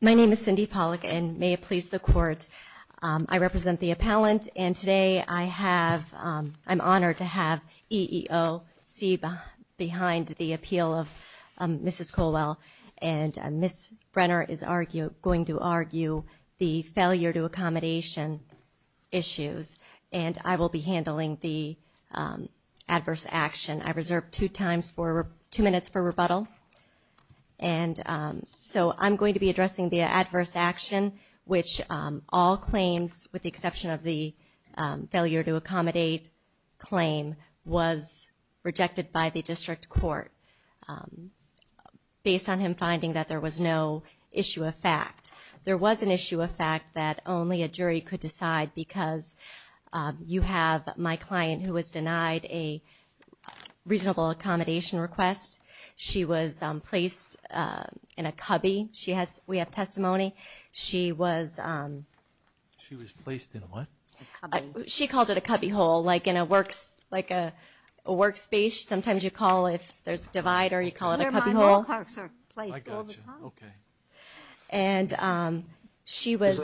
My name is Cindy Pollack and may it please the court I represent the appellant and today I have I'm honored to have EEOC behind the appeal of Mrs. Colwell and Miss Brenner is argue going to argue the failure to accommodation issues and I will be handling the adverse action. I reserved two times for two minutes for rebuttal and so I'm going to be addressing the adverse action which all claims with the exception of the failure to accommodate claim was rejected by the district court based on him finding that there was no issue of fact there was an issue of fact that only a jury could decide because you have my client who was denied a reasonable accommodation request she was placed in a cubby she has we have testimony she was she was placed in what she called it a cubby hole like in a works like a workspace sometimes you call if there's a divider you call it a cubby hole and she was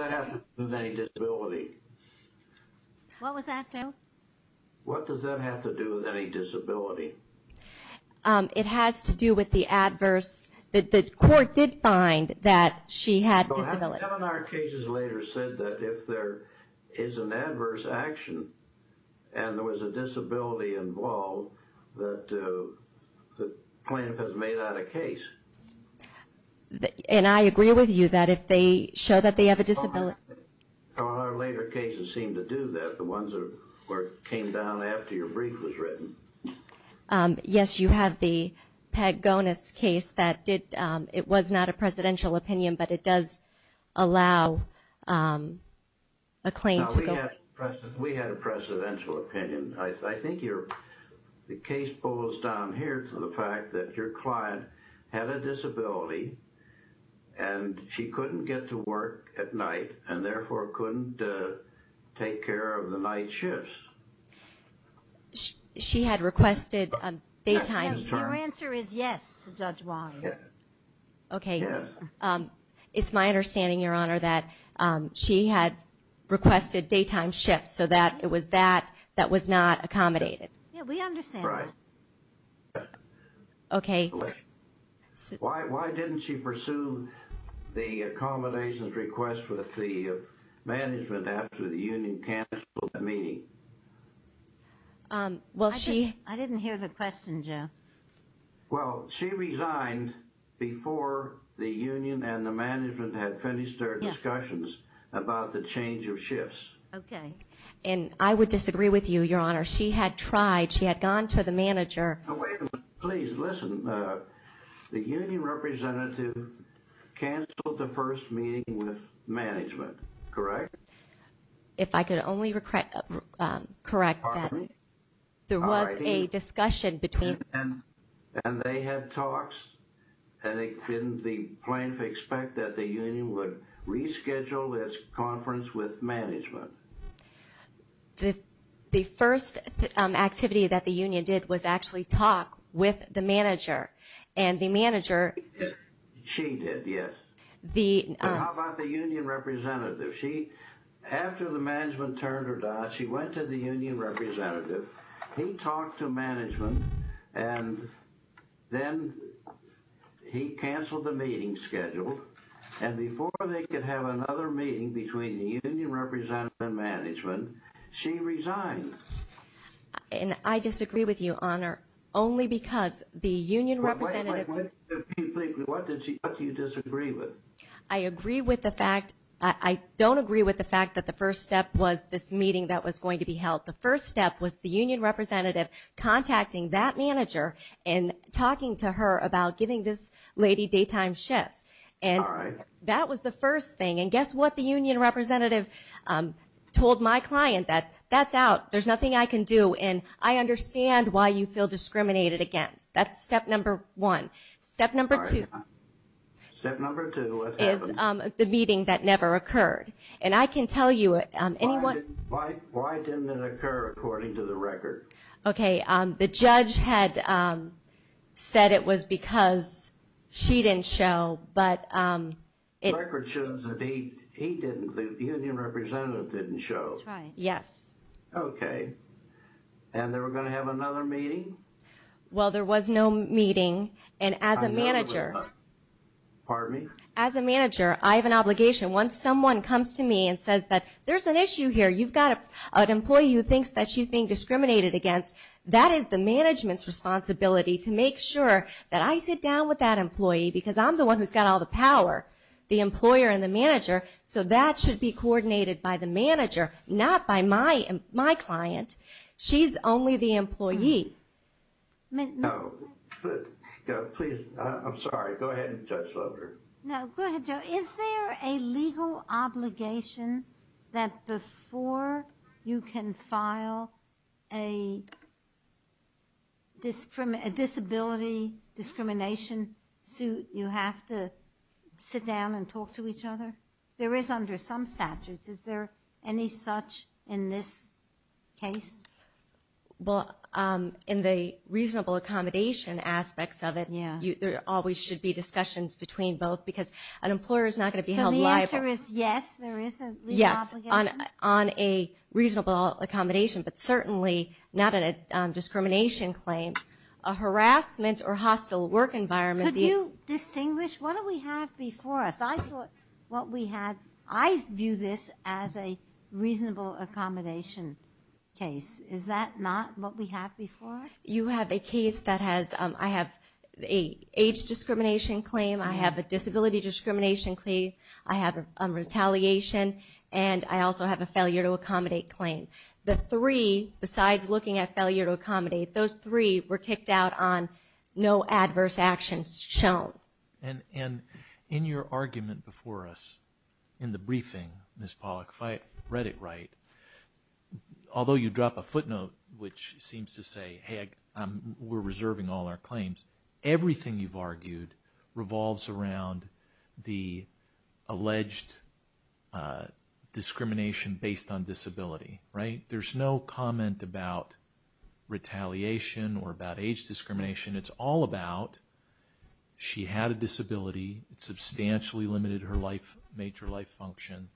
what was that what does that have to do with any disability it has to do with the adverse that the court did find that she had our cases later said that if there is an adverse action and there was a disability involved that the plaintiff has made out a case and I agree with you that if they show that they have a disability later cases seem to do that the ones of work came down after your brief was written yes you have the peg bonus case that did it was not a presidential opinion but it does allow a claim to go we had a presidential opinion I think you're the case goes down here to the fact that your client had a disability and she couldn't get to work at night and therefore couldn't take care of the night shifts she had requested a date yes okay it's my understanding your honor that she had requested daytime shifts so that it was that that was not accommodated okay why didn't she pursue the accommodations request with the management after the union can't mean well she I didn't hear the question Joe well she resigned before the union and the management had finished their discussions about the change of shifts okay and I would disagree with you your honor she had tried she had gone to the manager please listen the union representative canceled the first management correct if I could only regret correct there was a discussion between and they had talks and it didn't the plaintiff expect that the union would reschedule this conference with management the the first activity that the union did was actually talk with the manager and the manager she did yes the union representative she after the management turned her down she went to the union representative he talked to management and then he canceled the meeting schedule and before they could have another meeting between the union management she resigned and I disagree with you honor only because the union representative I agree with the fact I don't agree with the fact that the first step was this meeting that was going to be held the first step was the union representative contacting that manager and talking to her about giving this lady daytime shifts and that was the first thing and guess what the union representative told my client that that's out there's nothing I can do and I understand why you feel discriminated against that's step number one step number two step number two is the meeting that never occurred and I can tell you it anyone like why didn't it occur according to the record okay the judge had said it was because she didn't show but it was no meeting and as a manager as a manager I have an obligation once someone comes to me and says that there's an issue here you've got an employee who thinks that she's being discriminated against that is the management's responsibility to make sure that I sit down with that employee because I'm the one who's got all the power the employer and the manager so that should be coordinated by the manager not by my and my client she's only the employee is there a legal obligation that before you can file a disability discrimination suit you have to sit down and talk to each other there is under some statutes is there any such in this case well in the reasonable accommodation aspects of it yeah there always should be discussions between both because an employer is not going to be held liable yes on a reasonable accommodation but certainly not in a discrimination claim a harassment or hostile work environment you distinguish what do we have before us I thought what we had I view this as a reasonable accommodation case is that not what we have before you have a case that has I have a age discrimination claim I have a disability discrimination claim I have a retaliation and I also have a failure to accommodate claim the three besides looking at failure to accommodate those three were kicked out on no adverse actions shown and in your argument before us in the briefing this public fight read it right although you drop a footnote which seems to say hey we're reserving all our claims everything you've argued revolves around the alleged discrimination based on disability right there's no comment about retaliation or about age life major life function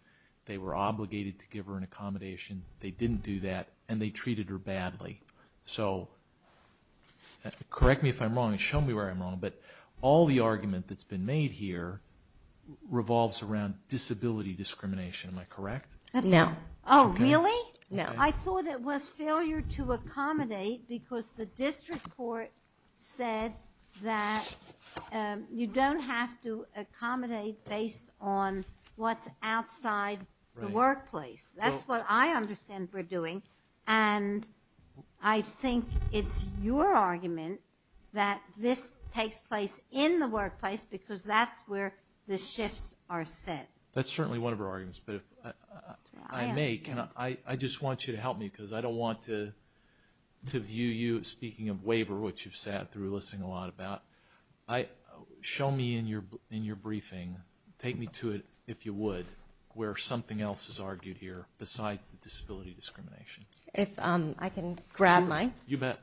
they were obligated to give her an accommodation they didn't do that and they treated her badly so correct me if I'm wrong and show me where I'm wrong but all the argument that's been made here revolves around disability discrimination am I correct no oh really no I thought it was failure to accommodate because the district court said that you don't have to accommodate based on what's outside the workplace that's what I understand we're doing and I think it's your argument that this takes place in the workplace because that's where the shifts are set that's certainly one of our arguments but I may cannot I I just want you to help me because I don't want to to view you speaking of waiver which you've sat through listening a lot about I show me in your in your briefing take me to it if you would where something else is argued here besides the disability discrimination if I can grab my you bet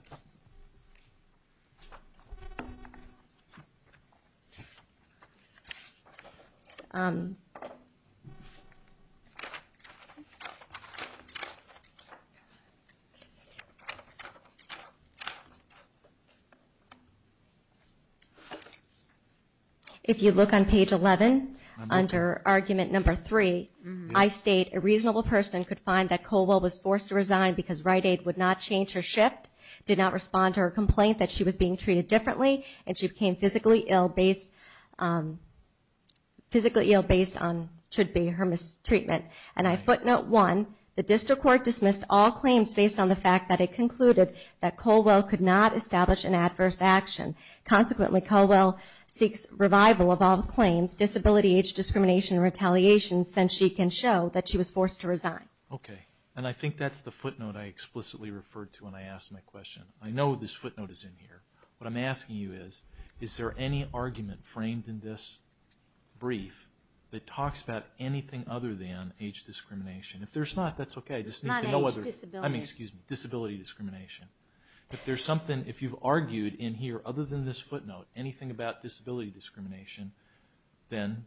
if you look on page 11 under argument number three I state a reasonable person could find that Colwell was forced to resign because right aid would not change her shift did not respond to her complaint that she was being treated differently and she became physically ill based physically ill based on should be her mistreatment and I footnote one the district court dismissed all claims based on the fact that it concluded that Colwell could not establish an adverse action consequently Colwell seeks revival of all claims disability age discrimination retaliation since she can show that she was forced to resign okay and I think that's the footnote I explicitly referred to when I asked my question I know this footnote is in here what I'm asking you is is there any argument framed in this brief that talks about anything other than age discrimination if there's not that's okay just know whether I'm excuse me discrimination if there's something if you've argued in here other than this footnote anything about disability discrimination then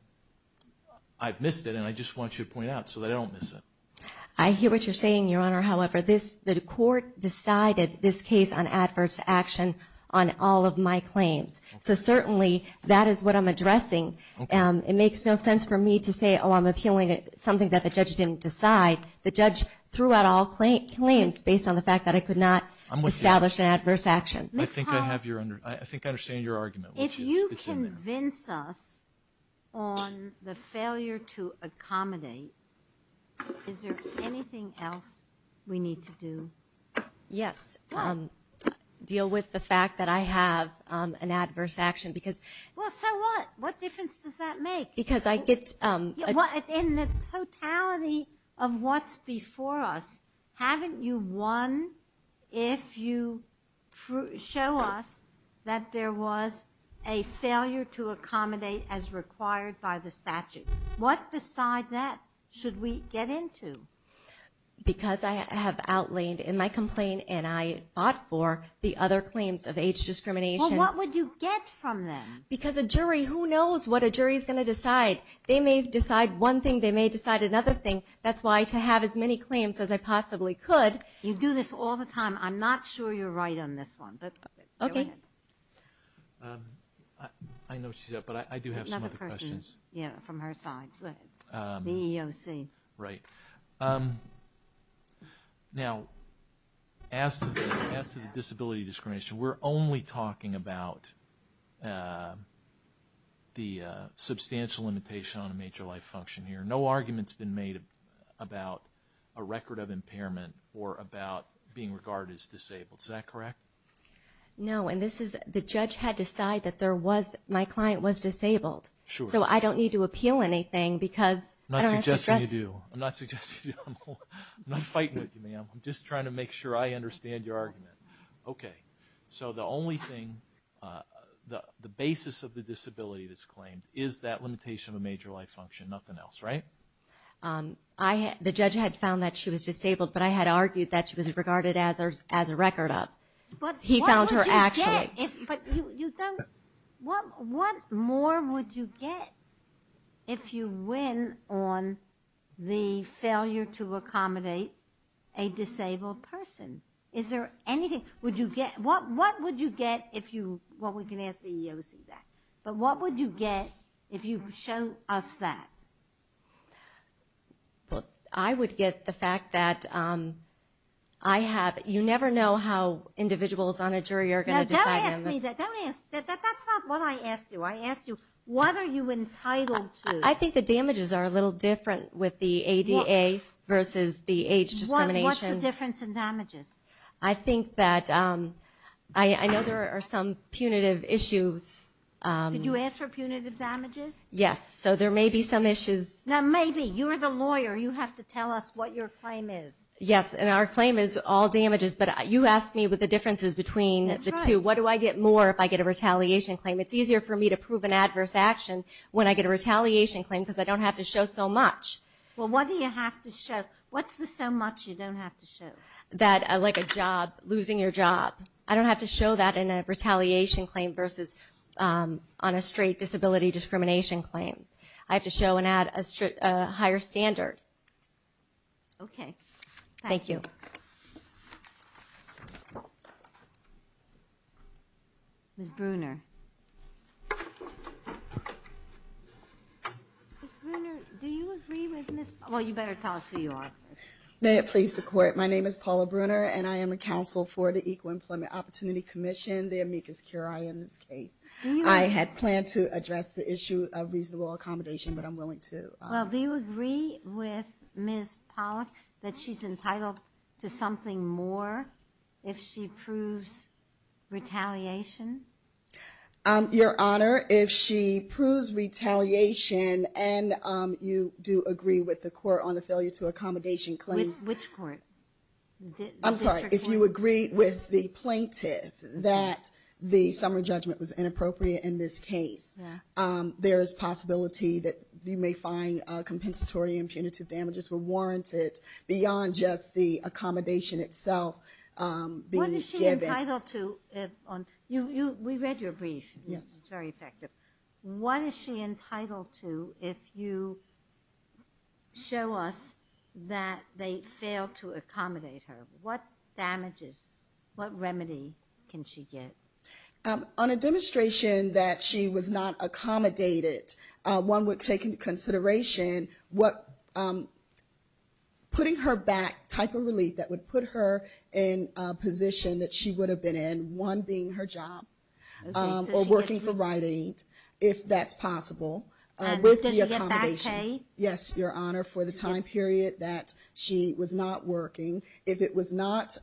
I've missed it and I just want you to point out so they don't miss it I hear what you're saying your honor however this the court decided this case on adverse action on all of my claims so certainly that is what I'm addressing and it makes no sense for me to say oh I'm appealing it something that the judge didn't decide the judge throughout all claims based on the fact that I could not establish an adverse action I think I have your under I think I understand your argument if you convince us on the failure to accommodate is there anything else we need to do yes deal with the fact that I have an adverse action because well so what what difference does that make because I get what in the totality of what's before us haven't you won if you show us that there was a failure to accommodate as required by the statute what beside that should we get into because I have outlined in my complaint and I fought for the other claims of age discrimination what would you get from them because a jury who knows what a jury is gonna decide they may decide one thing they may decide another thing that's why to have as many claims as I possibly could you do this all the time I'm not sure you're right on this one but okay I know she's up but I do have some other questions yeah from her side but the EOC right now as the disability discrimination we're only talking about the substantial limitation on a major life function here no arguments been made about a record of impairment or about being regarded as disabled correct no and this is the judge had to decide that there was my client was disabled so I don't need to appeal anything because I'm just trying to make sure I understand your argument okay so the only thing the basis of the disability is claimed is that limitation of a major life function nothing else right I had the judge had found that she was disabled but I had argued that she was regarded as ours as a record of what he found her actually what what more would you get if you win on the failure to accommodate a disabled person is there anything would you get what what would you get if you what we can but what would you get if you show us that I would get the fact that I have you never know how individuals on a jury are going to decide that's not what I asked you I asked you what are you entitled I think the damages are a little different with the ADA versus the age discrimination difference in I know there are some punitive issues yes so there may be some issues now maybe you're the lawyer you have to tell us what your claim is yes and our claim is all damages but you asked me with the differences between the two what do I get more if I get a retaliation claim it's easier for me to prove an adverse action when I get a retaliation claim because I don't have to show so much well what do you have to show what's the so much you don't have to show that I like a job losing your job I don't have to show that in a retaliation claim versus on a straight disability discrimination claim I have to show and add a higher standard okay thank you well you better tell us who you are may it please the court my name is Paula Brunner and I am a counsel for the Equal Employment Opportunity Commission the amicus curiae in this case I had planned to address the issue of reasonable accommodation but I'm willing to well do you agree with Miss Pollack that she's more if she proves retaliation your honor if she proves retaliation and you do agree with the court on the failure to accommodation claims which point I'm sorry if you agree with the plaintiff that the summer judgment was inappropriate in this case there is possibility that you may find compensatory and punitive damages were warranted beyond just the accommodation itself what is she entitled to if on you you we read your brief yes it's very effective what is she entitled to if you show us that they fail to accommodate her what damages what remedy can she get on a demonstration that she was not accommodated one would take into consideration what putting her back type relief that would put her in a position that she would have been in one being her job or working for writing if that's possible yes your honor for the time period that she was not working if it was not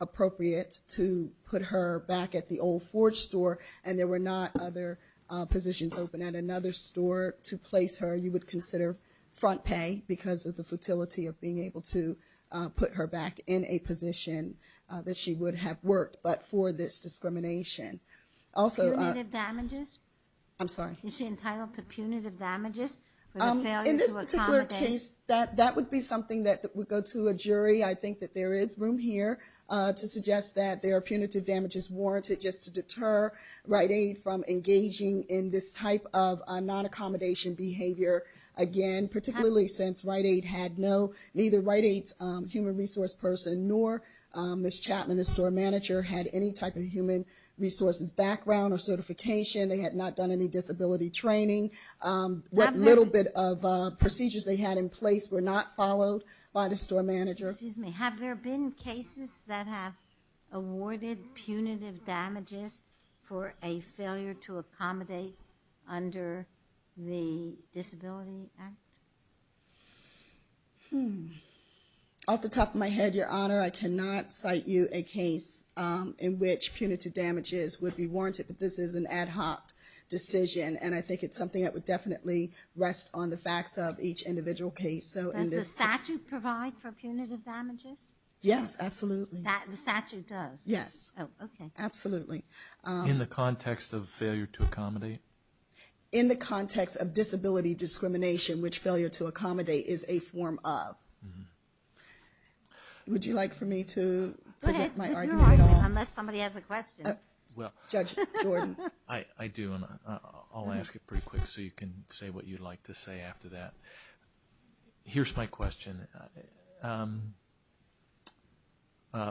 appropriate to put her back at the old Forge store and there were not other positions open at another store to place her you would consider front pay because of the futility of being able to put her back in a position that she would have worked but for this discrimination also damages I'm sorry she entitled to punitive damages in this particular case that that would be something that would go to a jury I think that there is room here to suggest that there are punitive damages warranted just to deter right aid from engaging in this type of non-accommodation behavior again particularly since right aid had no either right aids human resource person nor miss Chapman the store manager had any type of human resources background or certification they had not done any disability training what little bit of procedures they had in place were not followed by the store manager have there been cases that have awarded punitive damages for a failure to the top of my head your honor I cannot cite you a case in which punitive damages would be warranted but this is an ad hoc decision and I think it's something that would definitely rest on the facts of each individual case so in this statute provide for punitive damages yes absolutely that the statute does yes absolutely in the context of failure to accommodate in the context of disability discrimination which failure to accommodate is a form of would you like for me to somebody has a question I do and I'll ask it pretty quick so you can say what you'd like to say after that here's my question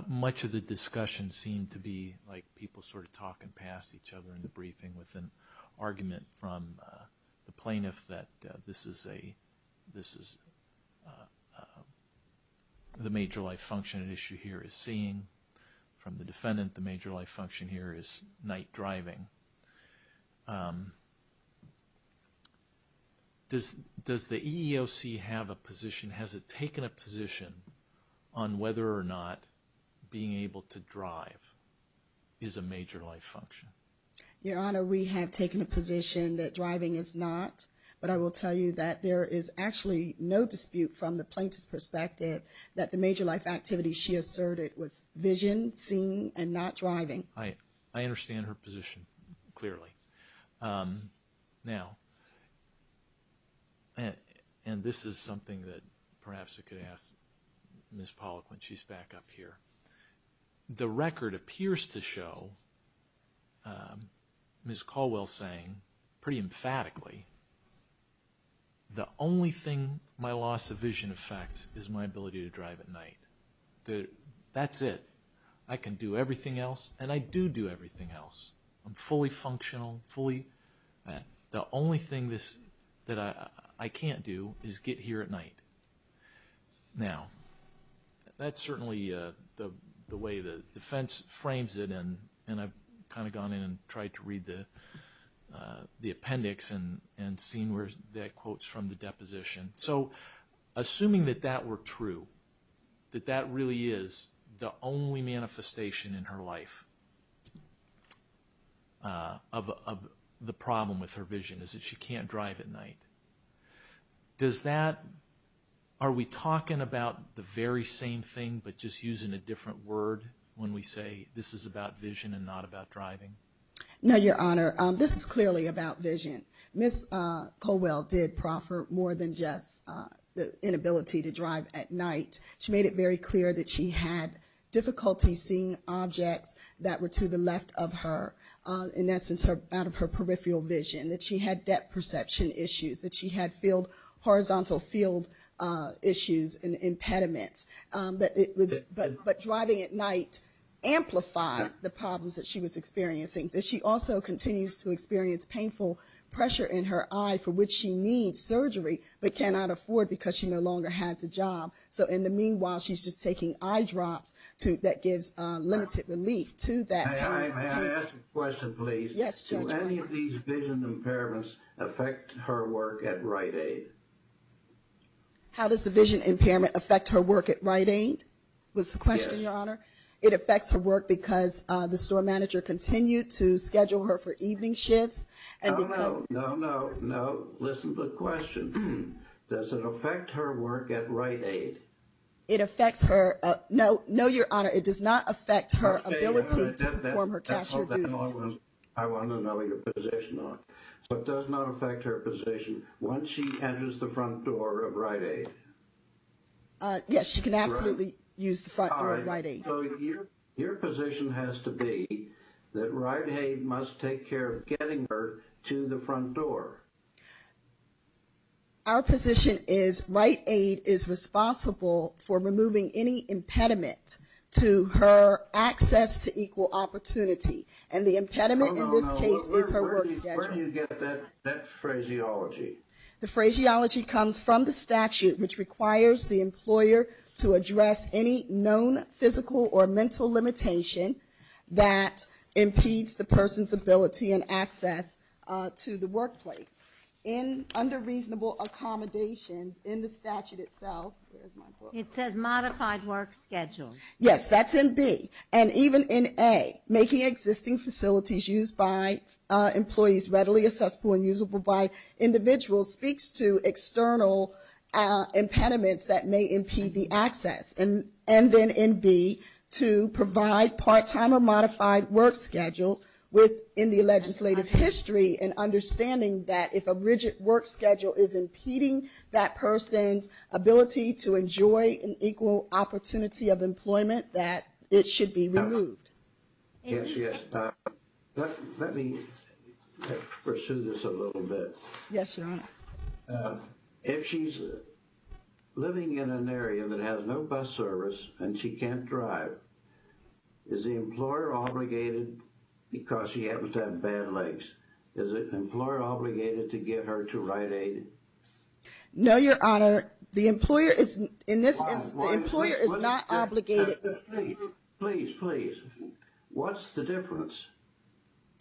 much of the discussion seemed to be like people sort of talking past each other in the that this is a this is the major life function issue here is seen from the defendant the major life function here is night driving this does the EEOC have a position has it taken a position on whether or not being able to drive is a not but I will tell you that there is actually no dispute from the plaintiff's perspective that the major life activity she asserted was vision seen and not driving I understand her position clearly now and this is something that perhaps it could ask miss pollack when she's back up here the record appears to show Ms. Caldwell saying pretty emphatically the only thing my loss of vision effects is my ability to drive at night that that's it I can do everything else and I do do everything else fully functional fully the only thing this that I can't do is get here at night now that's certainly the way the defense frames it and and I've kind of gone in and tried to read the the appendix and and seen where that quotes from the deposition so assuming that that were true that that really is the only manifestation in her life of the problem with her vision is that she can't drive at night does that are we talking about the very same thing but just using a different word when we say this is about vision and not about driving now your honor this is clearly about vision miss Caldwell did proffer more than just the inability to drive at night she made it very clear that she had difficulty seeing objects that were to the left of her in essence her out of her peripheral vision that she had depth perception issues that she had field horizontal field issues and impediments but it was but but driving at night amplify the problems that she was experiencing that she also continues to experience painful pressure in her eye for which she needs surgery but cannot afford because she no longer has a job so in the meanwhile she's just taking eyedrops to that gives limited relief to that question please affect her work at Rite Aid how does the vision impairment affect her work at Rite Aid was the question your honor it affects her work because the store manager continued to schedule her for evening shifts and listen to the question does it affect her work at Rite Aid it affects her no no your honor it does not affect her position once she enters the front door of Rite Aid yes she can absolutely use the front door of Rite Aid your position has to be that Rite Aid must take care of getting her to the front door our position is Rite Aid is responsible for removing any impediment to her access to equal opportunity and the impediment in this case is her work schedule. The phraseology comes from the statute which requires the employer to address any known physical or mental limitation that impedes the person's ability and access to the workplace in under reasonable accommodations in the statute itself it says modified work schedule yes that's in B and even in A making existing facilities used by employees readily accessible and usable by individuals speaks to external impediments that may impede the access and and then in B to provide part-time or modified work schedules within the legislative history and understanding that if a rigid work schedule is impeding that person's ability to enjoy an equal opportunity of it should be removed. Let me pursue this a little bit. Yes your honor. If she's living in an area that has no bus service and she can't drive is the employer obligated because she happens to have bad legs is it an employer obligated to get her to Rite Aid? No your honor. Please, please. What's the difference?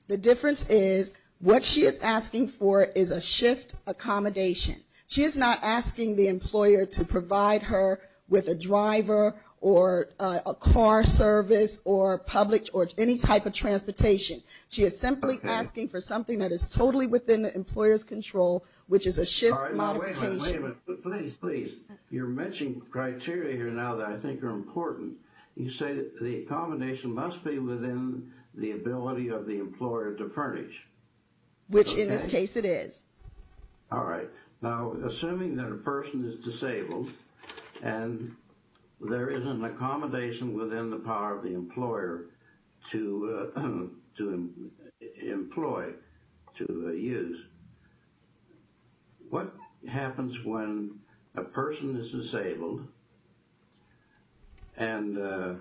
The difference is what she is asking for is a shift accommodation. She is not asking the employer to provide her with a driver or a car service or public or any type of transportation. She is simply asking for something that is totally within the employer's control which is a shift modification. Wait a minute, wait a minute. Please, please. You're matching criteria here now that I think are important. You say the accommodation must be within the ability of the employer to furnish. Which in this case it is. All right now assuming that a person is disabled and there is an accommodation within the power of the and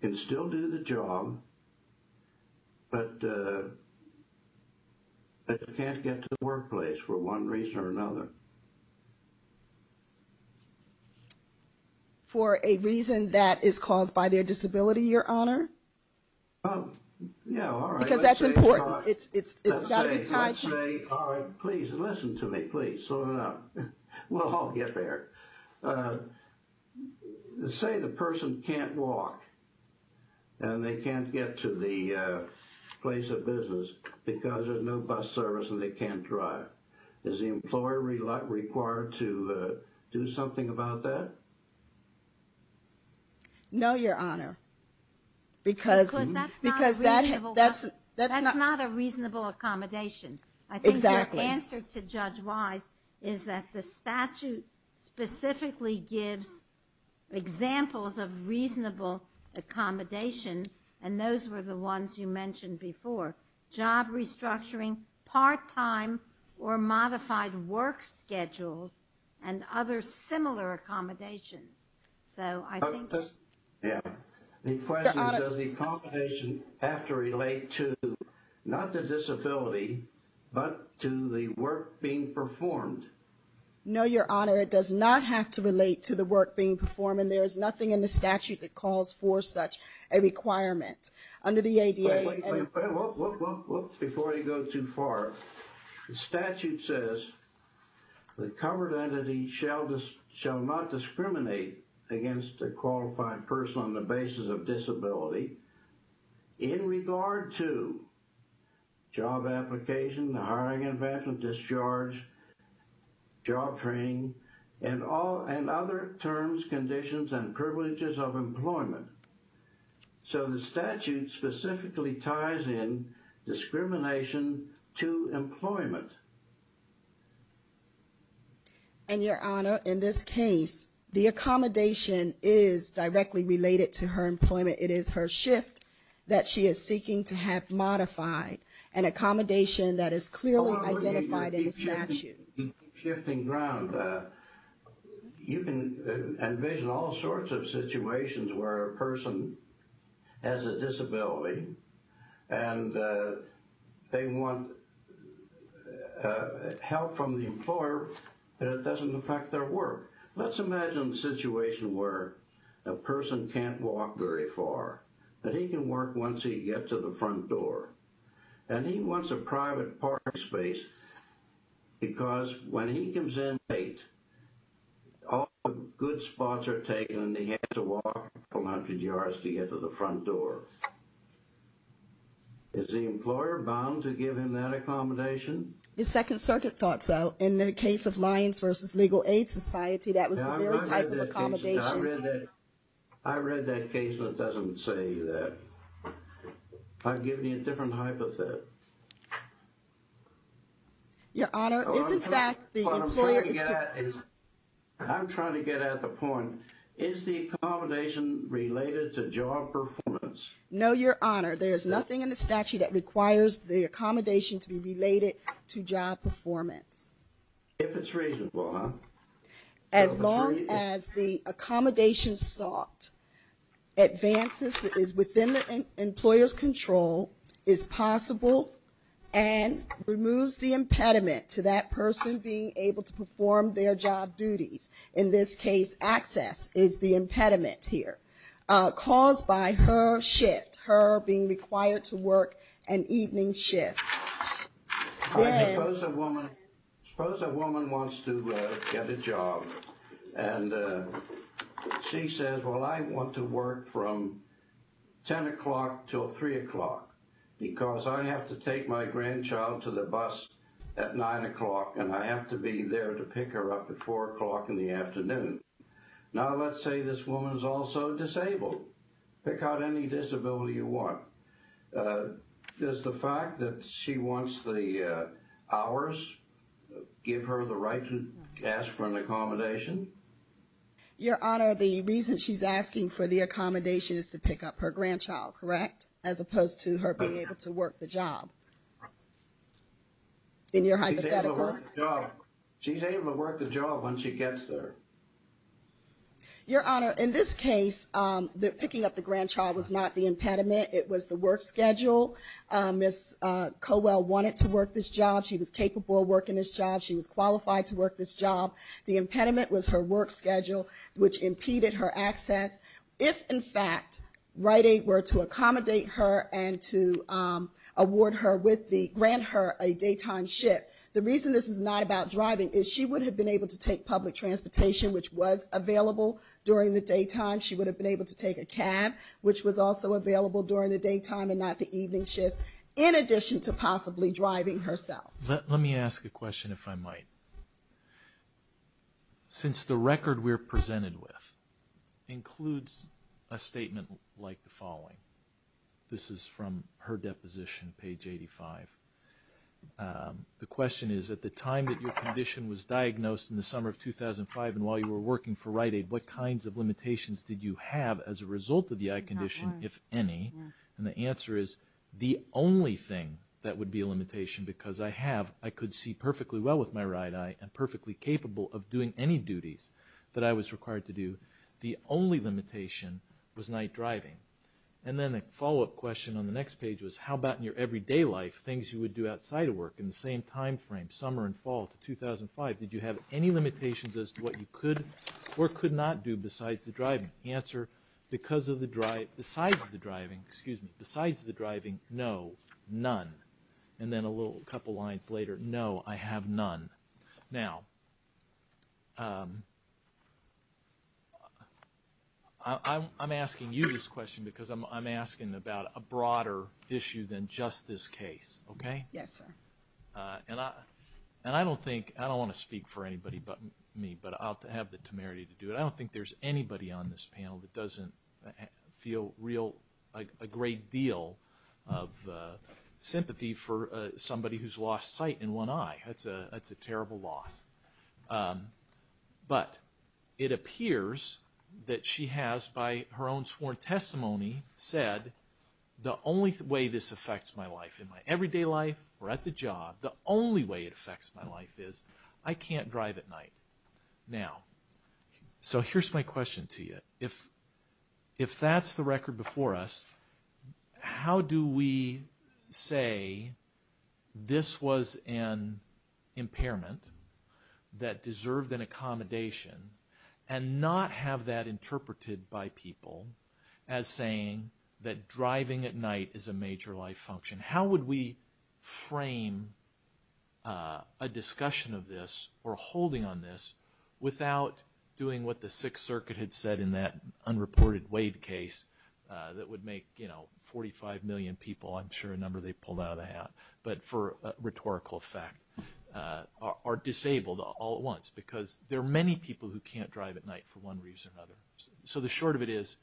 can still do the job but can't get to the workplace for one reason or another. For a reason that is caused by their disability your honor? Yeah, all right. Because that's important. It's got to be tied to. Let's say, all right, please listen to me, please. Slow down. We'll all get there. Say the person can't walk and they can't get to the place of business because there is no bus service and they can't drive. Is the employer required to do something about that? No, your honor. Because that's not a reasonable accommodation. Exactly. I think the answer to Judge Wise is that the statute specifically gives examples of reasonable accommodation and those were the ones you mentioned before. Job restructuring, part-time or modified work schedules and other similar accommodations. So, I think. Yeah. The question is, does the accommodation have to relate to, not the disability, but to the work being performed? No, your honor. It does not have to relate to the work being performed and there is nothing in the statute that calls for such a requirement. Under the ADA. Before you go too far, the statute says the covered entity shall not discriminate against a qualified person on the basis of disability. In regard to job application, the hiring and vacuum discharge, job training and all and other terms, conditions and privileges of employment. So, the statute specifically ties in discrimination to employment. And your honor, in this case, the accommodation is directly related to her employment. It is her shift that she is seeking to have modified. An accommodation that is clearly identified in the statute. Shifting ground. You can envision all sorts of situations where a person has a disability and they want help from the employer, but it doesn't affect their work. Let's imagine a situation where a person can't walk very far, but he can work once he gets to the front door. And he wants a private parking space because when he comes in late, all the good spots are taken and he has to walk a couple hundred yards to get to the front door. Is the employer bound to give him that accommodation? The Second Circuit thought so. In the case of Lions v. Legal Aid Society, that was the very type of accommodation. I read that case and it doesn't say that. I'll give you a different hypothesis. Your honor, if in fact the employer is... I'm trying to get at the point. Is the accommodation related to job performance? No, your honor. There is nothing in the statute that requires the accommodation to be related to job performance. If it's reasonable, huh? As long as the accommodation sought advances within the employer's control, is possible, and removes the impediment to that person being able to perform their job duties. In this case, access is the impediment here, caused by her shift, her being required to work an evening shift. I suppose a woman wants to get a job, and she says, well I want to work from 10 o'clock till 3 o'clock, because I have to take my grandchild to the bus at 9 o'clock, and I have to be there to pick her up at 4 o'clock in the afternoon. Now let's say this woman is also disabled. Pick out any disability you want. Does the fact that she wants the hours give her the right to ask for an accommodation? Your honor, the reason she's asking for the accommodation is to pick up her grandchild, correct? As opposed to her being able to work the job. In your hypothetical... She's able to work the job when she gets there. Your honor, in this case, picking up the grandchild was not the impediment. It was the work schedule. Ms. Cowell wanted to work this job. She was capable of working this job. She was qualified to work this job. The impediment was her work schedule, which impeded her access. If, in fact, Rite Aid were to accommodate her and to grant her a daytime shift, the reason this is not about driving is she would have been able to take public transportation, which was available during the daytime. She would have been able to take a cab, which was also available during the daytime and not the evening shifts, in addition to possibly driving herself. Let me ask a question, if I might. Since the record we're presented with includes a statement like the following... This is from her deposition, page 85. The question is, at the time that your condition was diagnosed in the summer of 2005 and while you were working for Rite Aid, what kinds of limitations did you have as a result of the eye condition, if any? And the answer is, the only thing that would be a limitation, because I could see perfectly well with my right eye and perfectly capable of doing any duties that I was required to do, the only limitation was night driving. And then the follow-up question on the next page was, how about in your everyday life, things you would do outside of work in the same time frame, summer and fall of 2005? Did you have any limitations as to what you could or could not do besides the driving? The answer, besides the driving, no, none. And then a couple of lines later, no, I have none. Now, I'm asking you this question because I'm asking about a broader issue than just this case, okay? Yes, sir. And I don't want to speak for anybody but me, but I'll have the temerity to do it. I don't think there's anybody on this panel that doesn't feel a great deal of sympathy for somebody who's lost sight in one eye. That's a terrible loss. But it appears that she has, by her own sworn testimony, said, the only way this affects my life in my everyday life or at the job, the only way it affects my life is I can't drive at night. Now, so here's my question to you. If that's the record before us, how do we say this was an impairment that deserved an accommodation and not have that interpreted by people as saying that driving at night is a major life function? How would we frame a discussion of this or a holding on this without doing what the Sixth Circuit had said in that unreported Wade case that would make, you know, 45 million people, I'm sure a number they pulled out of the hat, but for rhetorical effect, are disabled all at once because there are many people who can't drive at night for one reason or another. So the short of it is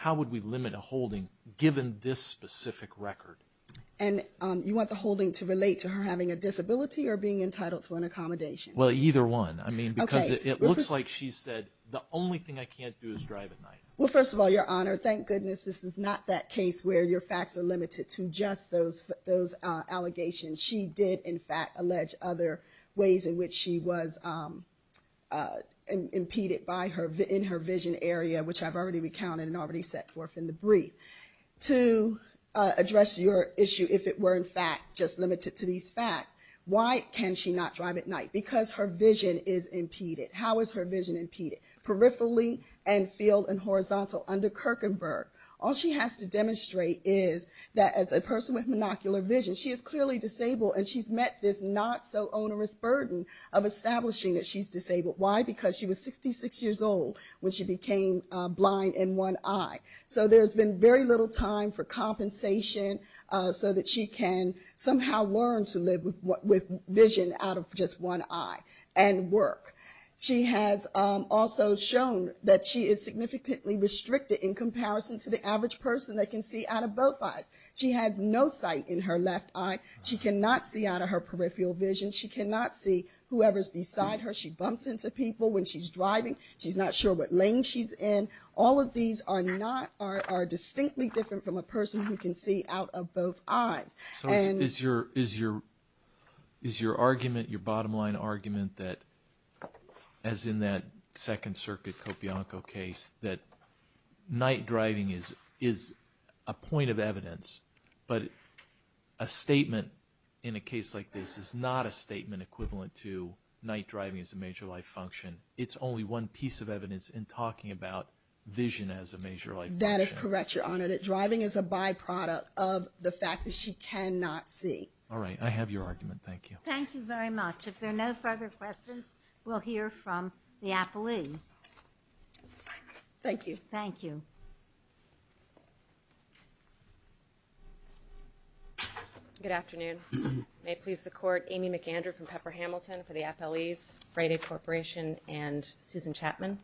how would we limit a holding given this specific record? And you want the holding to relate to her having a disability or being entitled to an accommodation? Well, either one. I mean, because it looks like she said the only thing I can't do is drive at night. Well, first of all, Your Honor, thank goodness this is not that case where your facts are limited to just those allegations. She did, in fact, allege other ways in which she was impeded in her vision area, which I've already recounted and already set forth in the brief. To address your issue, if it were, in fact, just limited to these facts, why can she not drive at night? Because her vision is impeded. How is her vision impeded? Peripherally and field and horizontal under Kirkenberg. All she has to demonstrate is that as a person with monocular vision, she is clearly disabled and she's met this not so onerous burden of establishing that she's disabled. Why? Because she was 66 years old when she became blind in one eye. So there's been very little time for compensation so that she can somehow learn to live with vision out of just one eye and work. She has also shown that she is significantly restricted in comparison to the average person that can see out of both eyes. She has no sight in her left eye. She cannot see out of her peripheral vision. She cannot see whoever's beside her. She bumps into people when she's driving. She's not sure what lane she's in. All of these are distinctly different from a person who can see out of both eyes. So is your argument, your bottom line argument, that as in that Second Circuit Copianco case, that night driving is a point of evidence, but a statement in a case like this is not a statement equivalent to night driving as a major life function. It's only one piece of evidence in talking about vision as a major life function. That is correct, Your Honor. That driving is a byproduct of the fact that she cannot see. All right. I have your argument. Thank you. Thank you very much. If there are no further questions, we'll hear from the appellee. Thank you. Thank you. Good afternoon. May it please the Court, Amy McAndrew from Pepper Hamilton for the appellees, Friday Corporation, and Susan Chapman.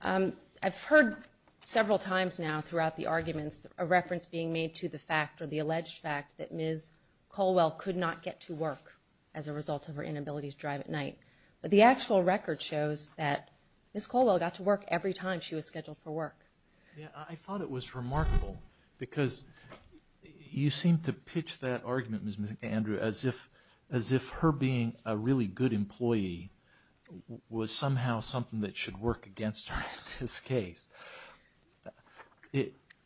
I've heard several times now throughout the arguments a reference being made to the fact or the alleged fact that Ms. Colwell could not get to work as a result of her inability to drive at night. But the actual record shows that Ms. Colwell got to work every time she was scheduled for work. I thought it was remarkable because you seemed to pitch that argument, Ms. McAndrew, as if her being a really good employee was somehow something that should work against her in this case.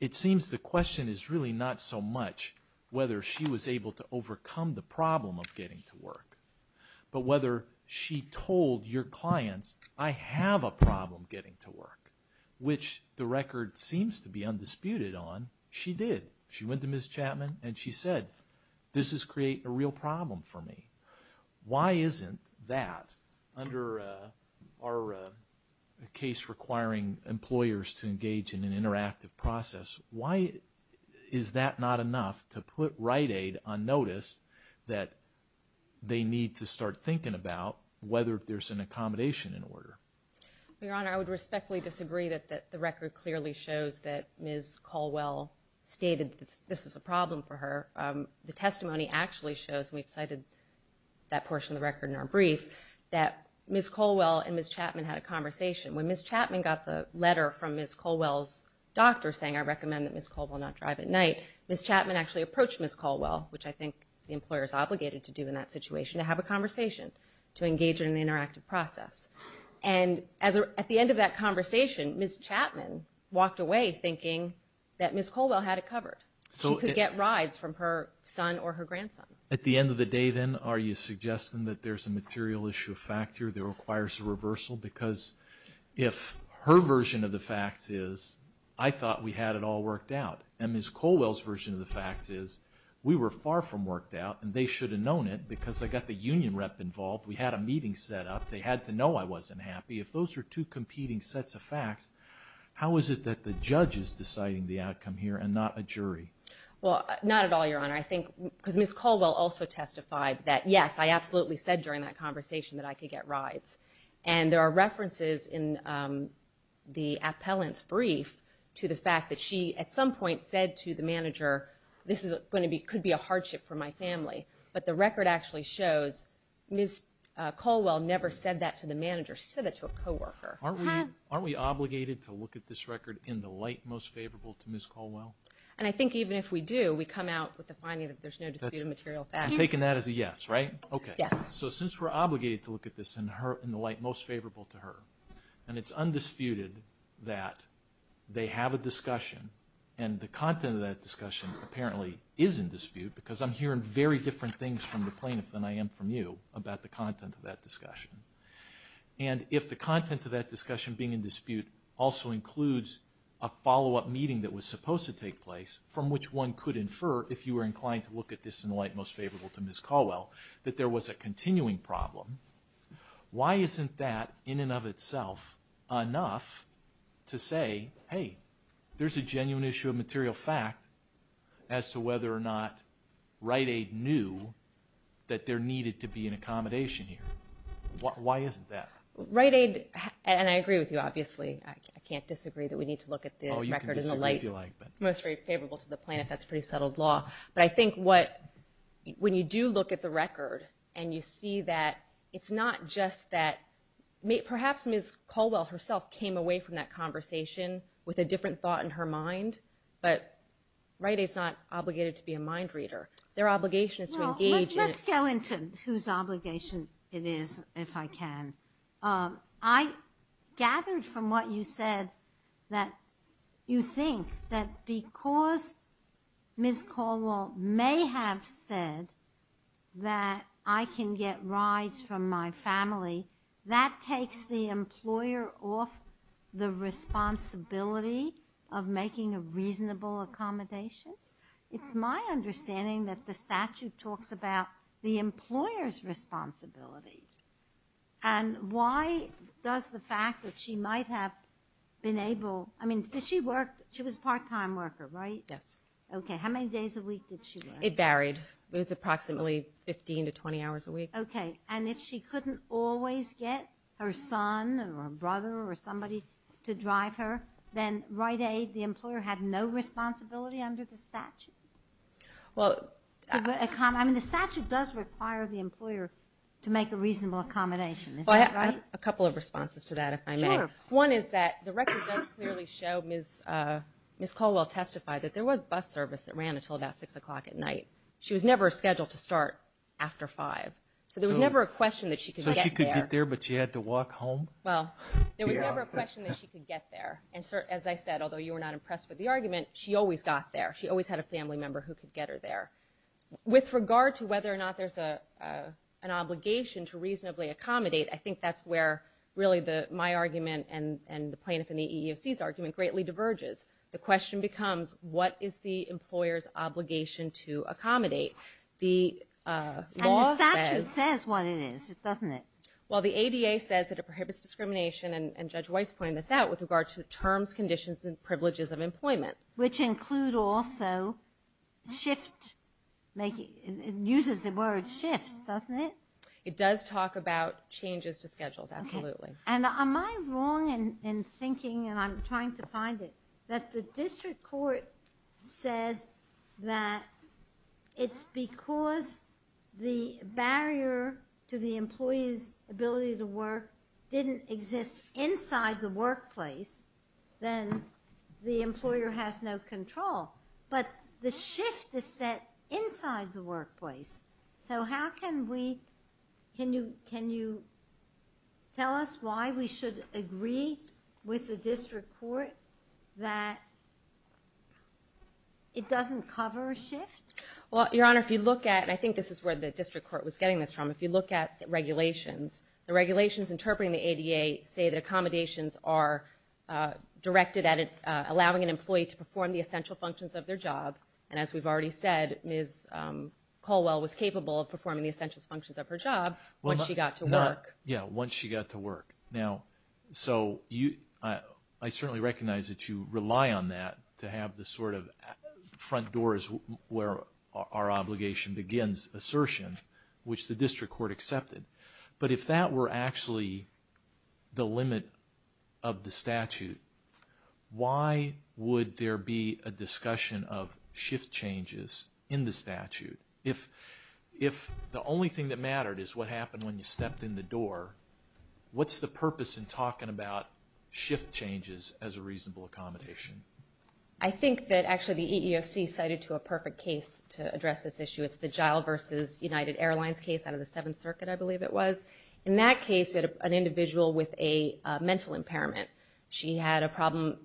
It seems the question is really not so much whether she was able to overcome the problem of getting to work, but whether she told your clients, I have a problem getting to work, which the record seems to be undisputed on. She did. She went to Ms. Chapman and she said, this is creating a real problem for me. Why isn't that under our case requiring employers to engage in an interactive process, why is that not enough to put Rite Aid on notice that they need to start thinking about whether there's an accommodation in order? Your Honor, I would respectfully disagree that the record clearly shows that Ms. Colwell stated this was a problem for her. The testimony actually shows, and we've cited that portion of the record in our brief, that Ms. Colwell and Ms. Chapman had a conversation. When Ms. Chapman got the letter from Ms. Colwell's doctor saying, I recommend that Ms. Colwell not drive at night, Ms. Chapman actually approached Ms. Colwell, which I think the employer is obligated to do in that situation, to have a conversation, to engage in an interactive process. And at the end of that conversation, Ms. Chapman walked away thinking that Ms. Colwell had it covered. She could get rides from her son or her grandson. At the end of the day then, are you suggesting that there's a material issue of fact here that requires a reversal? Because if her version of the facts is, I thought we had it all worked out, and Ms. Colwell's version of the facts is, we were far from worked out and they should have known it because they got the union rep involved, we had a meeting set up, they had to know I wasn't happy. If those are two competing sets of facts, how is it that the judge is deciding the outcome here and not a jury? Well, not at all, Your Honor. I think because Ms. Colwell also testified that, yes, I absolutely said during that conversation that I could get rides. And there are references in the appellant's brief to the fact that she at some point said to the manager, this could be a hardship for my family. But the record actually shows Ms. Colwell never said that to the manager, she said it to a coworker. Aren't we obligated to look at this record in the light most favorable to Ms. Colwell? And I think even if we do, we come out with the finding that there's no dispute of material facts. I'm taking that as a yes, right? Okay. Yes. So since we're obligated to look at this in the light most favorable to her, and it's undisputed that they have a discussion, and the content of that discussion apparently is in dispute, because I'm hearing very different things from the plaintiff than I am from you about the content of that discussion. And if the content of that discussion being in dispute also includes a follow-up meeting that was supposed to take place, from which one could infer, if you were inclined to look at this in the light most favorable to Ms. Colwell, that there was a continuing problem, why isn't that in and of itself enough to say, hey, there's a genuine issue of material fact as to whether or not Rite Aid knew that there needed to be an accommodation here? Why isn't that? Rite Aid, and I agree with you, obviously. I can't disagree that we need to look at the record in the light most favorable to the plaintiff. That's pretty settled law. But I think when you do look at the record, and you see that it's not just that, perhaps Ms. Colwell herself came away from that conversation with a different thought in her mind, but Rite Aid's not obligated to be a mind reader. Their obligation is to engage in it. Well, let's go into whose obligation it is, if I can. I gathered from what you said that you think that because Ms. Colwell may have said that I can get rides from my family, that takes the employer off the responsibility of making a reasonable accommodation. It's my understanding that the statute talks about the employer's responsibility. And why does the fact that she might have been able, I mean, did she work, she was a part-time worker, right? Yes. Okay. How many days a week did she work? It varied. It was approximately 15 to 20 hours a week. Okay. And if she couldn't always get her son or her brother or somebody to drive her, then Rite Aid, the employer, had no responsibility under the statute? Well, I mean, the statute does require the employer to make a reasonable accommodation. Is that right? Well, I have a couple of responses to that, if I may. Sure. One is that the record does clearly show Ms. Colwell testified that there was bus service that ran until about 6 o'clock at night. She was never scheduled to start after 5. So there was never a question that she could get there. So she could get there, but she had to walk home? Well, there was never a question that she could get there. And as I said, although you were not impressed with the argument, she always got there. She always had a family member who could get her there. With regard to whether or not there's an obligation to reasonably accommodate, I think that's where really my argument and the plaintiff in the EEOC's argument greatly diverges. The question becomes, what is the employer's obligation to accommodate? And the statute says what it is, doesn't it? Well, the ADA says that it prohibits discrimination, and Judge Weiss pointed this out, with regard to terms, conditions, and privileges of employment. Which include also shift making. It uses the word shift, doesn't it? It does talk about changes to schedules, absolutely. And am I wrong in thinking, and I'm trying to find it, that the district court said that it's because the barrier to the employee's ability to work didn't exist inside the workplace, then the employer has no control. But the shift is set inside the workplace. So how can we, can you tell us why we should agree with the district court that it doesn't cover a shift? Well, Your Honor, if you look at, and I think this is where the district court was getting this from, if you look at regulations, the regulations interpreting the ADA say that accommodations are directed at allowing an employee to perform the essential functions of their job. And as we've already said, Ms. Colwell was capable of performing the essential functions of her job once she got to work. Yeah, once she got to work. Now, so I certainly recognize that you rely on that to have the sort of front doors where our obligation begins. which the district court accepted. But if that were actually the limit of the statute, why would there be a discussion of shift changes in the statute? If the only thing that mattered is what happened when you stepped in the door, what's the purpose in talking about shift changes as a reasonable accommodation? I think that actually the EEOC cited to a perfect case to address this issue. It's the Giles versus United Airlines case out of the Seventh Circuit, I believe it was. In that case, an individual with a mental impairment. She had a problem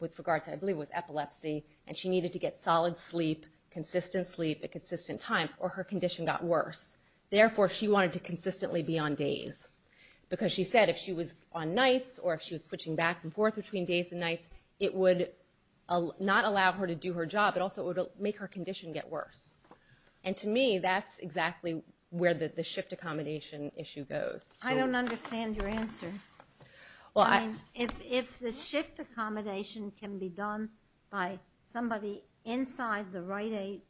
with regards to, I believe it was epilepsy, and she needed to get solid sleep, consistent sleep at consistent times, or her condition got worse. Therefore, she wanted to consistently be on days. Because she said if she was on nights or if she was switching back and forth between days and nights, it would not allow her to do her job, but also it would make her condition get worse. And to me, that's exactly where the shift accommodation issue goes. I don't understand your answer. If the shift accommodation can be done by somebody inside the Rite Aid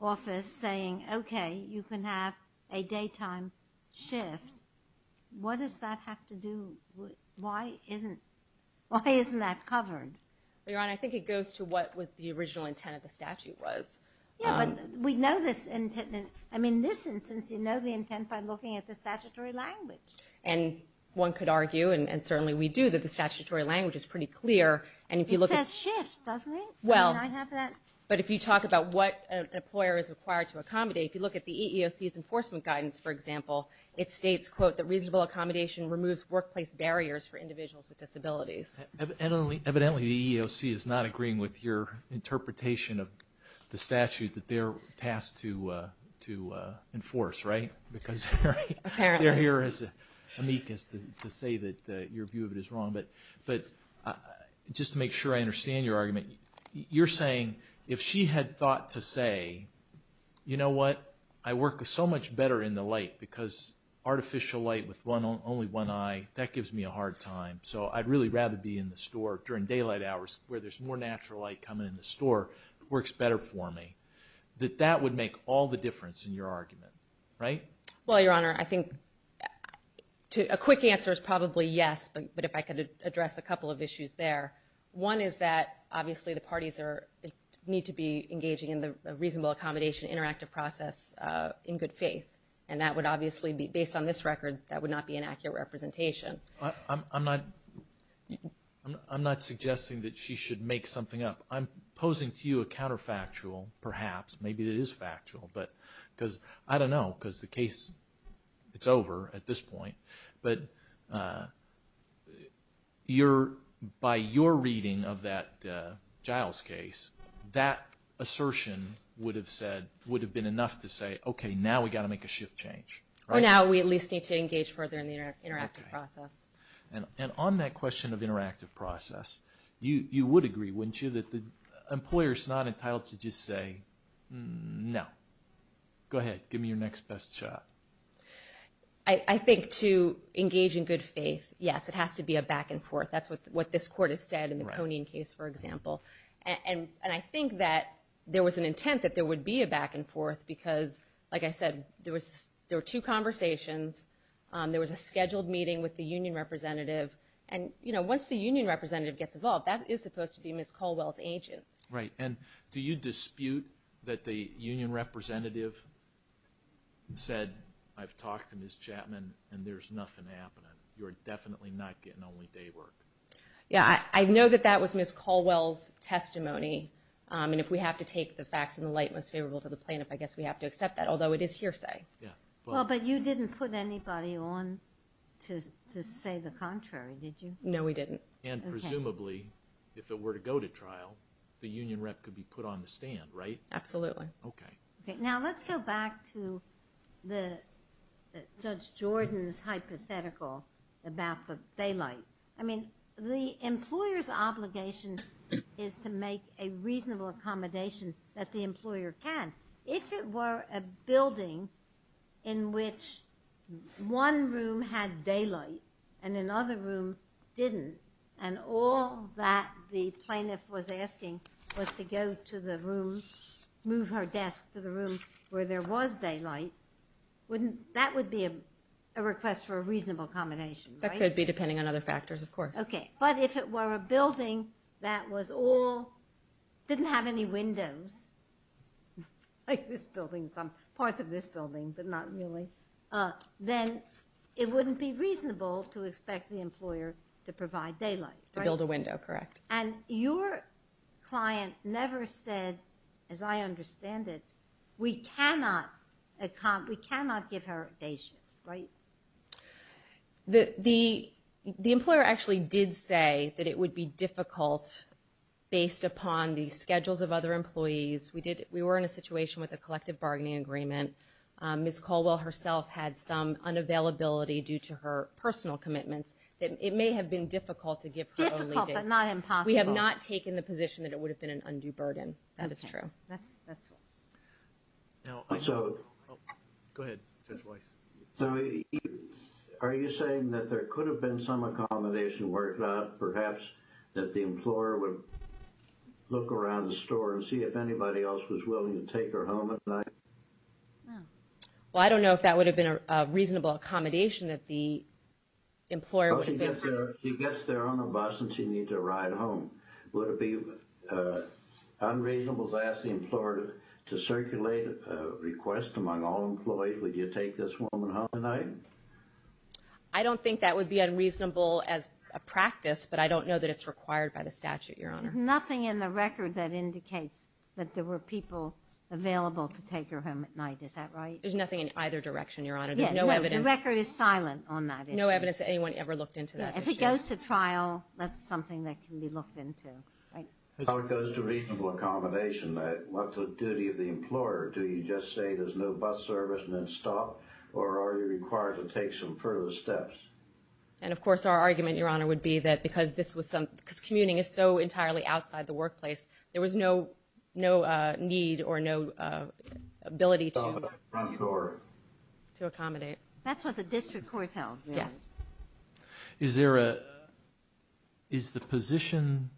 office saying, okay, you can have a daytime shift, what does that have to do? Why isn't that covered? Your Honor, I think it goes to what the original intent of the statute was. Yeah, but we know this intent. I mean, in this instance, you know the intent by looking at the statutory language. And one could argue, and certainly we do, that the statutory language is pretty clear. It says shift, doesn't it? Well, but if you talk about what an employer is required to accommodate, if you look at the EEOC's enforcement guidance, for example, it states, quote, that reasonable accommodation removes workplace barriers for individuals with disabilities. Evidently, the EEOC is not agreeing with your interpretation of the statute that they're tasked to enforce, right? Because they're here as amicus to say that your view of it is wrong. But just to make sure I understand your argument, you're saying if she had thought to say, you know what, I work so much better in the light because artificial light with only one eye, that gives me a hard time, so I'd really rather be in the store during daylight hours where there's more natural light coming in the store, it works better for me, that that would make all the difference in your argument, right? Well, Your Honor, I think a quick answer is probably yes. But if I could address a couple of issues there, one is that, obviously, the parties need to be engaging in the reasonable accommodation interactive process in good faith. And that would obviously be, based on this record, that would not be an accurate representation. I'm not suggesting that she should make something up. I'm posing to you a counterfactual, perhaps, maybe it is factual, but because, I don't know, because the case, it's over at this point, but by your reading of that Giles case, that assertion would have said, would have been enough to say, okay, now we've got to make a shift change. Or now we at least need to engage further in the interactive process. And on that question of interactive process, you would agree, wouldn't you, that the employer is not entitled to just say, no. Go ahead, give me your next best shot. I think to engage in good faith, yes, it has to be a back and forth. That's what this Court has said in the Koning case, for example. And I think that there was an intent that there would be a back and forth because, like I said, there were two conversations. There was a scheduled meeting with the union representative. And once the union representative gets involved, that is supposed to be Ms. Caldwell's agent. Right, and do you dispute that the union representative said, I've talked to Ms. Chapman and there's nothing happening. You're definitely not getting only day work. Yeah, I know that that was Ms. Caldwell's testimony. And if we have to take the facts in the light most favorable to the plaintiff, I guess we have to accept that, although it is hearsay. Well, but you didn't put anybody on to say the contrary, did you? No, we didn't. And presumably, if it were to go to trial, the union rep could be put on the stand, right? Absolutely. Okay. Now let's go back to Judge Jordan's hypothetical about the daylight. I mean, the employer's obligation is to make a reasonable accommodation that the employer can. If it were a building in which one room had daylight and another room didn't, and all that the plaintiff was asking was to go to the room, move her desk to the room where there was daylight, that would be a request for a reasonable accommodation, right? That could be, depending on other factors, of course. Okay. But if it were a building that didn't have any windows, like this building, some parts of this building but not really, then it wouldn't be reasonable to expect the employer to provide daylight, right? To build a window, correct. And your client never said, as I understand it, we cannot give her a day shift, right? The employer actually did say that it would be difficult, based upon the schedules of other employees. We were in a situation with a collective bargaining agreement. Ms. Caldwell herself had some unavailability due to her personal commitments. It may have been difficult to give her only days. Difficult but not impossible. We have not taken the position that it would have been an undue burden. That is true. Okay. That's all. Go ahead, Judge Weiss. So are you saying that there could have been some accommodation worked out, perhaps that the employer would look around the store and see if anybody else was willing to take her home at night? Well, I don't know if that would have been a reasonable accommodation, that the employer would have been free. She gets there on a bus and she needs a ride home. Would it be unreasonable to ask the employer to circulate a request among all employees? Would you take this woman home at night? I don't think that would be unreasonable as a practice, but I don't know that it's required by the statute, Your Honor. There's nothing in the record that indicates that there were people available to take her home at night. Is that right? There's nothing in either direction, Your Honor. There's no evidence. The record is silent on that issue. No evidence that anyone ever looked into that issue. If it goes to trial, that's something that can be looked into, right? As far as it goes to reasonable accommodation, what's the duty of the employer? Do you just say there's no bus service and then stop, or are you required to take some further steps? And, of course, our argument, Your Honor, would be that because commuting is so entirely outside the workplace, there was no need or no ability to accommodate. That's what the district court held. Yes. Is there a position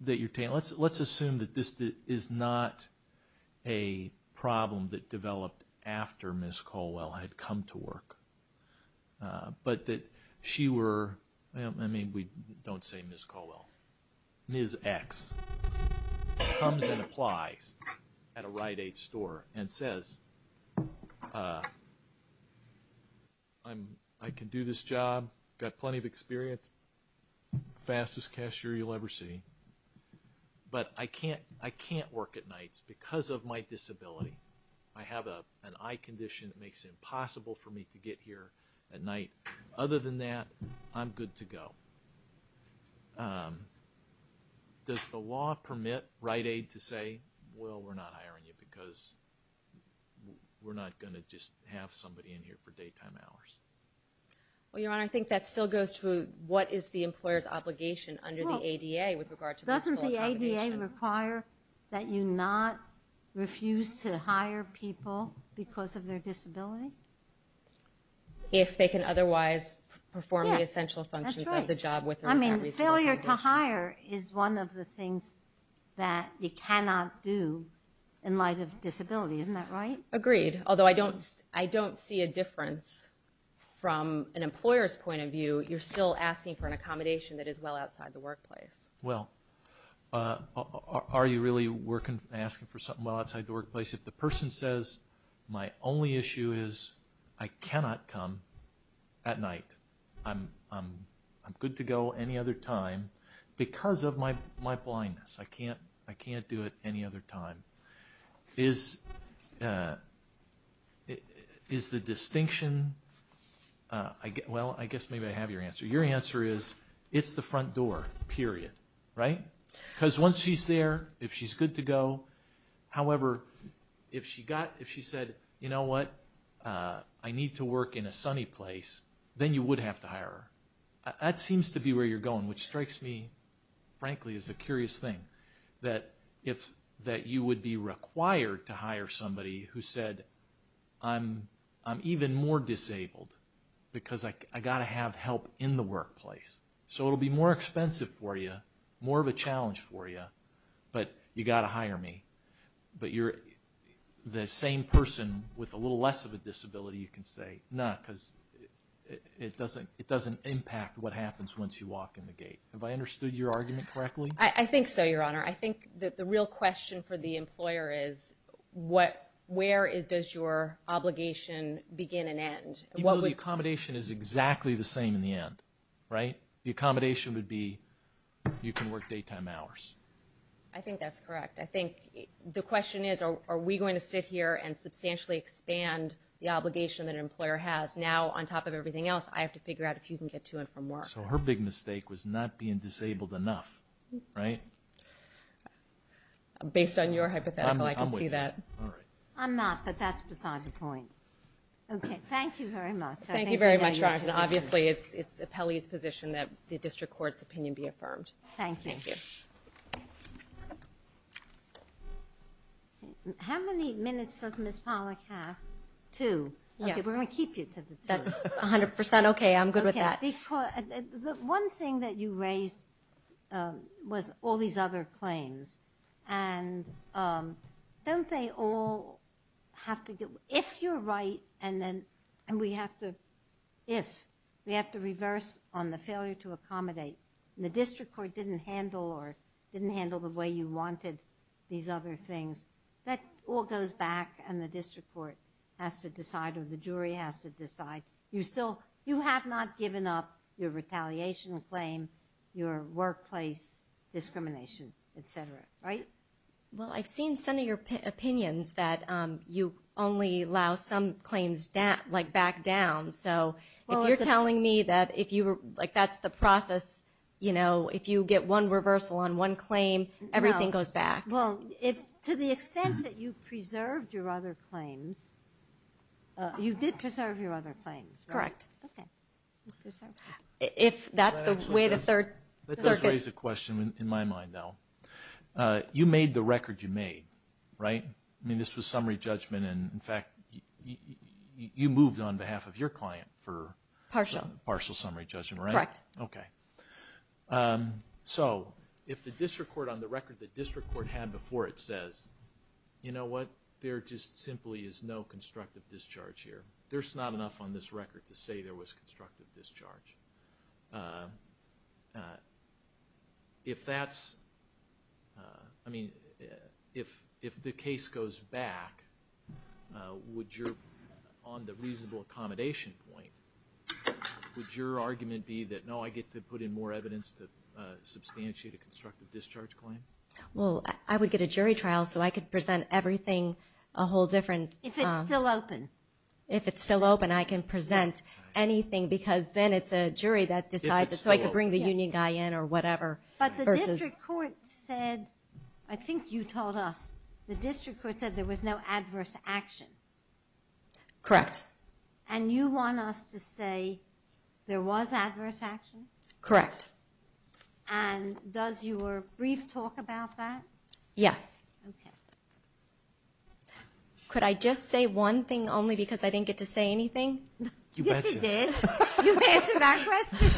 that you're taking? Let's assume that this is not a problem that developed after Ms. Caldwell had come to work, but that she were, I mean, we don't say Ms. Caldwell. Ms. X comes and applies at a Rite-Aid store and says, I can do this job, got plenty of experience, fastest cashier you'll ever see, but I can't work at nights because of my disability. I have an eye condition that makes it impossible for me to get here at night. Other than that, I'm good to go. Does the law permit Rite-Aid to say, well, we're not hiring you because we're not going to just have somebody in here for daytime hours? Well, Your Honor, I think that still goes to what is the employer's obligation under the ADA with regard to reasonable accommodation. Well, doesn't the ADA require that you not refuse to hire people because of their disability? If they can otherwise perform the essential functions of the job. I mean, failure to hire is one of the things that you cannot do in light of disability. Isn't that right? Agreed. Although I don't see a difference from an employer's point of view. You're still asking for an accommodation that is well outside the workplace. Well, are you really asking for something well outside the workplace? If the person says, my only issue is I cannot come at night. I'm good to go any other time because of my blindness. I can't do it any other time. Is the distinction, well, I guess maybe I have your answer. Your answer is, it's the front door, period. Right? Because once she's there, if she's good to go, however, if she said, you know what, I need to work in a sunny place, then you would have to hire her. That seems to be where you're going, which strikes me, frankly, as a curious thing. That you would be required to hire somebody who said, I'm even more disabled because I've got to have help in the workplace. So it will be more expensive for you, more of a challenge for you, but you've got to hire me. But you're the same person with a little less of a disability, you can say, not because it doesn't impact what happens once you walk in the gate. Have I understood your argument correctly? I think so, Your Honor. I think that the real question for the employer is, where does your obligation begin and end? Even though the accommodation is exactly the same in the end, right? The accommodation would be, you can work daytime hours. I think that's correct. I think the question is, are we going to sit here and substantially expand the obligation that an employer has? Now, on top of everything else, I have to figure out if you can get to and from work. So her big mistake was not being disabled enough, right? Based on your hypothetical, I can see that. I'm with you. All right. I'm not, but that's beside the point. Okay. Thank you very much. Thank you very much, Your Honor. Obviously, it's the appellee's position that the district court's opinion be affirmed. Thank you. Thank you. How many minutes does Ms. Pollack have? Two. Yes. Okay, we're going to keep you to the two. That's 100% okay. I'm good with that. The one thing that you raised was all these other claims. And don't they all have to get, if you're right, and then, and we have to, if, we have to reverse on the failure to accommodate. The district court didn't handle or didn't handle the way you wanted these other things. That all goes back, and the district court has to decide, or the jury has to decide. You still, you have not given up your retaliation claim, your workplace discrimination, et cetera. Right? Well, I've seen some of your opinions that you only allow some claims, like, back down. So, if you're telling me that if you were, like, that's the process, you know, if you get one reversal on one claim, everything goes back. Well, if, to the extent that you preserved your other claims, you did preserve your other claims, right? Correct. Okay. If that's the way the third circuit. Let's just raise a question in my mind, though. You made the record you made, right? I mean, this was summary judgment, and, in fact, you moved on behalf of your client for partial summary judgment, right? Correct. Okay. So, if the district court, on the record the district court had before it says, you know what? There just simply is no constructive discharge here. There's not enough on this record to say there was constructive discharge. If that's, I mean, if the case goes back, would your, on the reasonable accommodation point, would your argument be that, no, I get to put in more evidence to substantiate a constructive discharge claim? Well, I would get a jury trial, so I could present everything a whole different. If it's still open. If it's still open, I can present anything, because then it's a jury that decides. If it's still open. So, I could bring the union guy in or whatever. But the district court said, I think you told us, the district court said there was no adverse action. Correct. And you want us to say there was adverse action? Correct. And does your brief talk about that? Yes. Okay. Could I just say one thing, only because I didn't get to say anything? Yes, you did. You answered that question.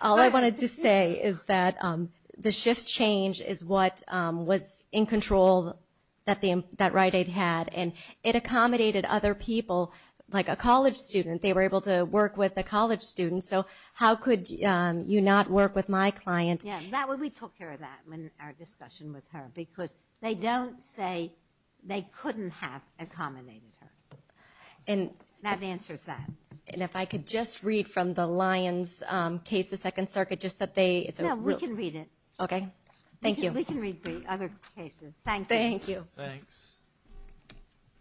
All I wanted to say is that the shift change is what was in control that Rite Aid had, and it accommodated other people, like a college student. They were able to work with a college student. So, how could you not work with my client? Yeah, we took care of that in our discussion with her, because they don't say they couldn't have accommodated her. And that answers that. And if I could just read from the Lyons case, the Second Circuit, just that they – Yeah, we can read it. Okay. Thank you. We can read other cases. Thank you. Thanks.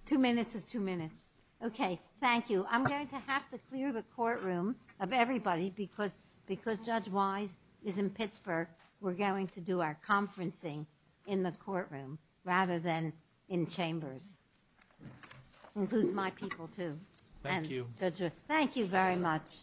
Two minutes is two minutes. Okay. Thank you. I'm going to have to clear the courtroom of everybody, because Judge Wise is in Pittsburgh. We're going to do our conferencing in the courtroom rather than in chambers. Includes my people, too. Thank you. Thank you very much.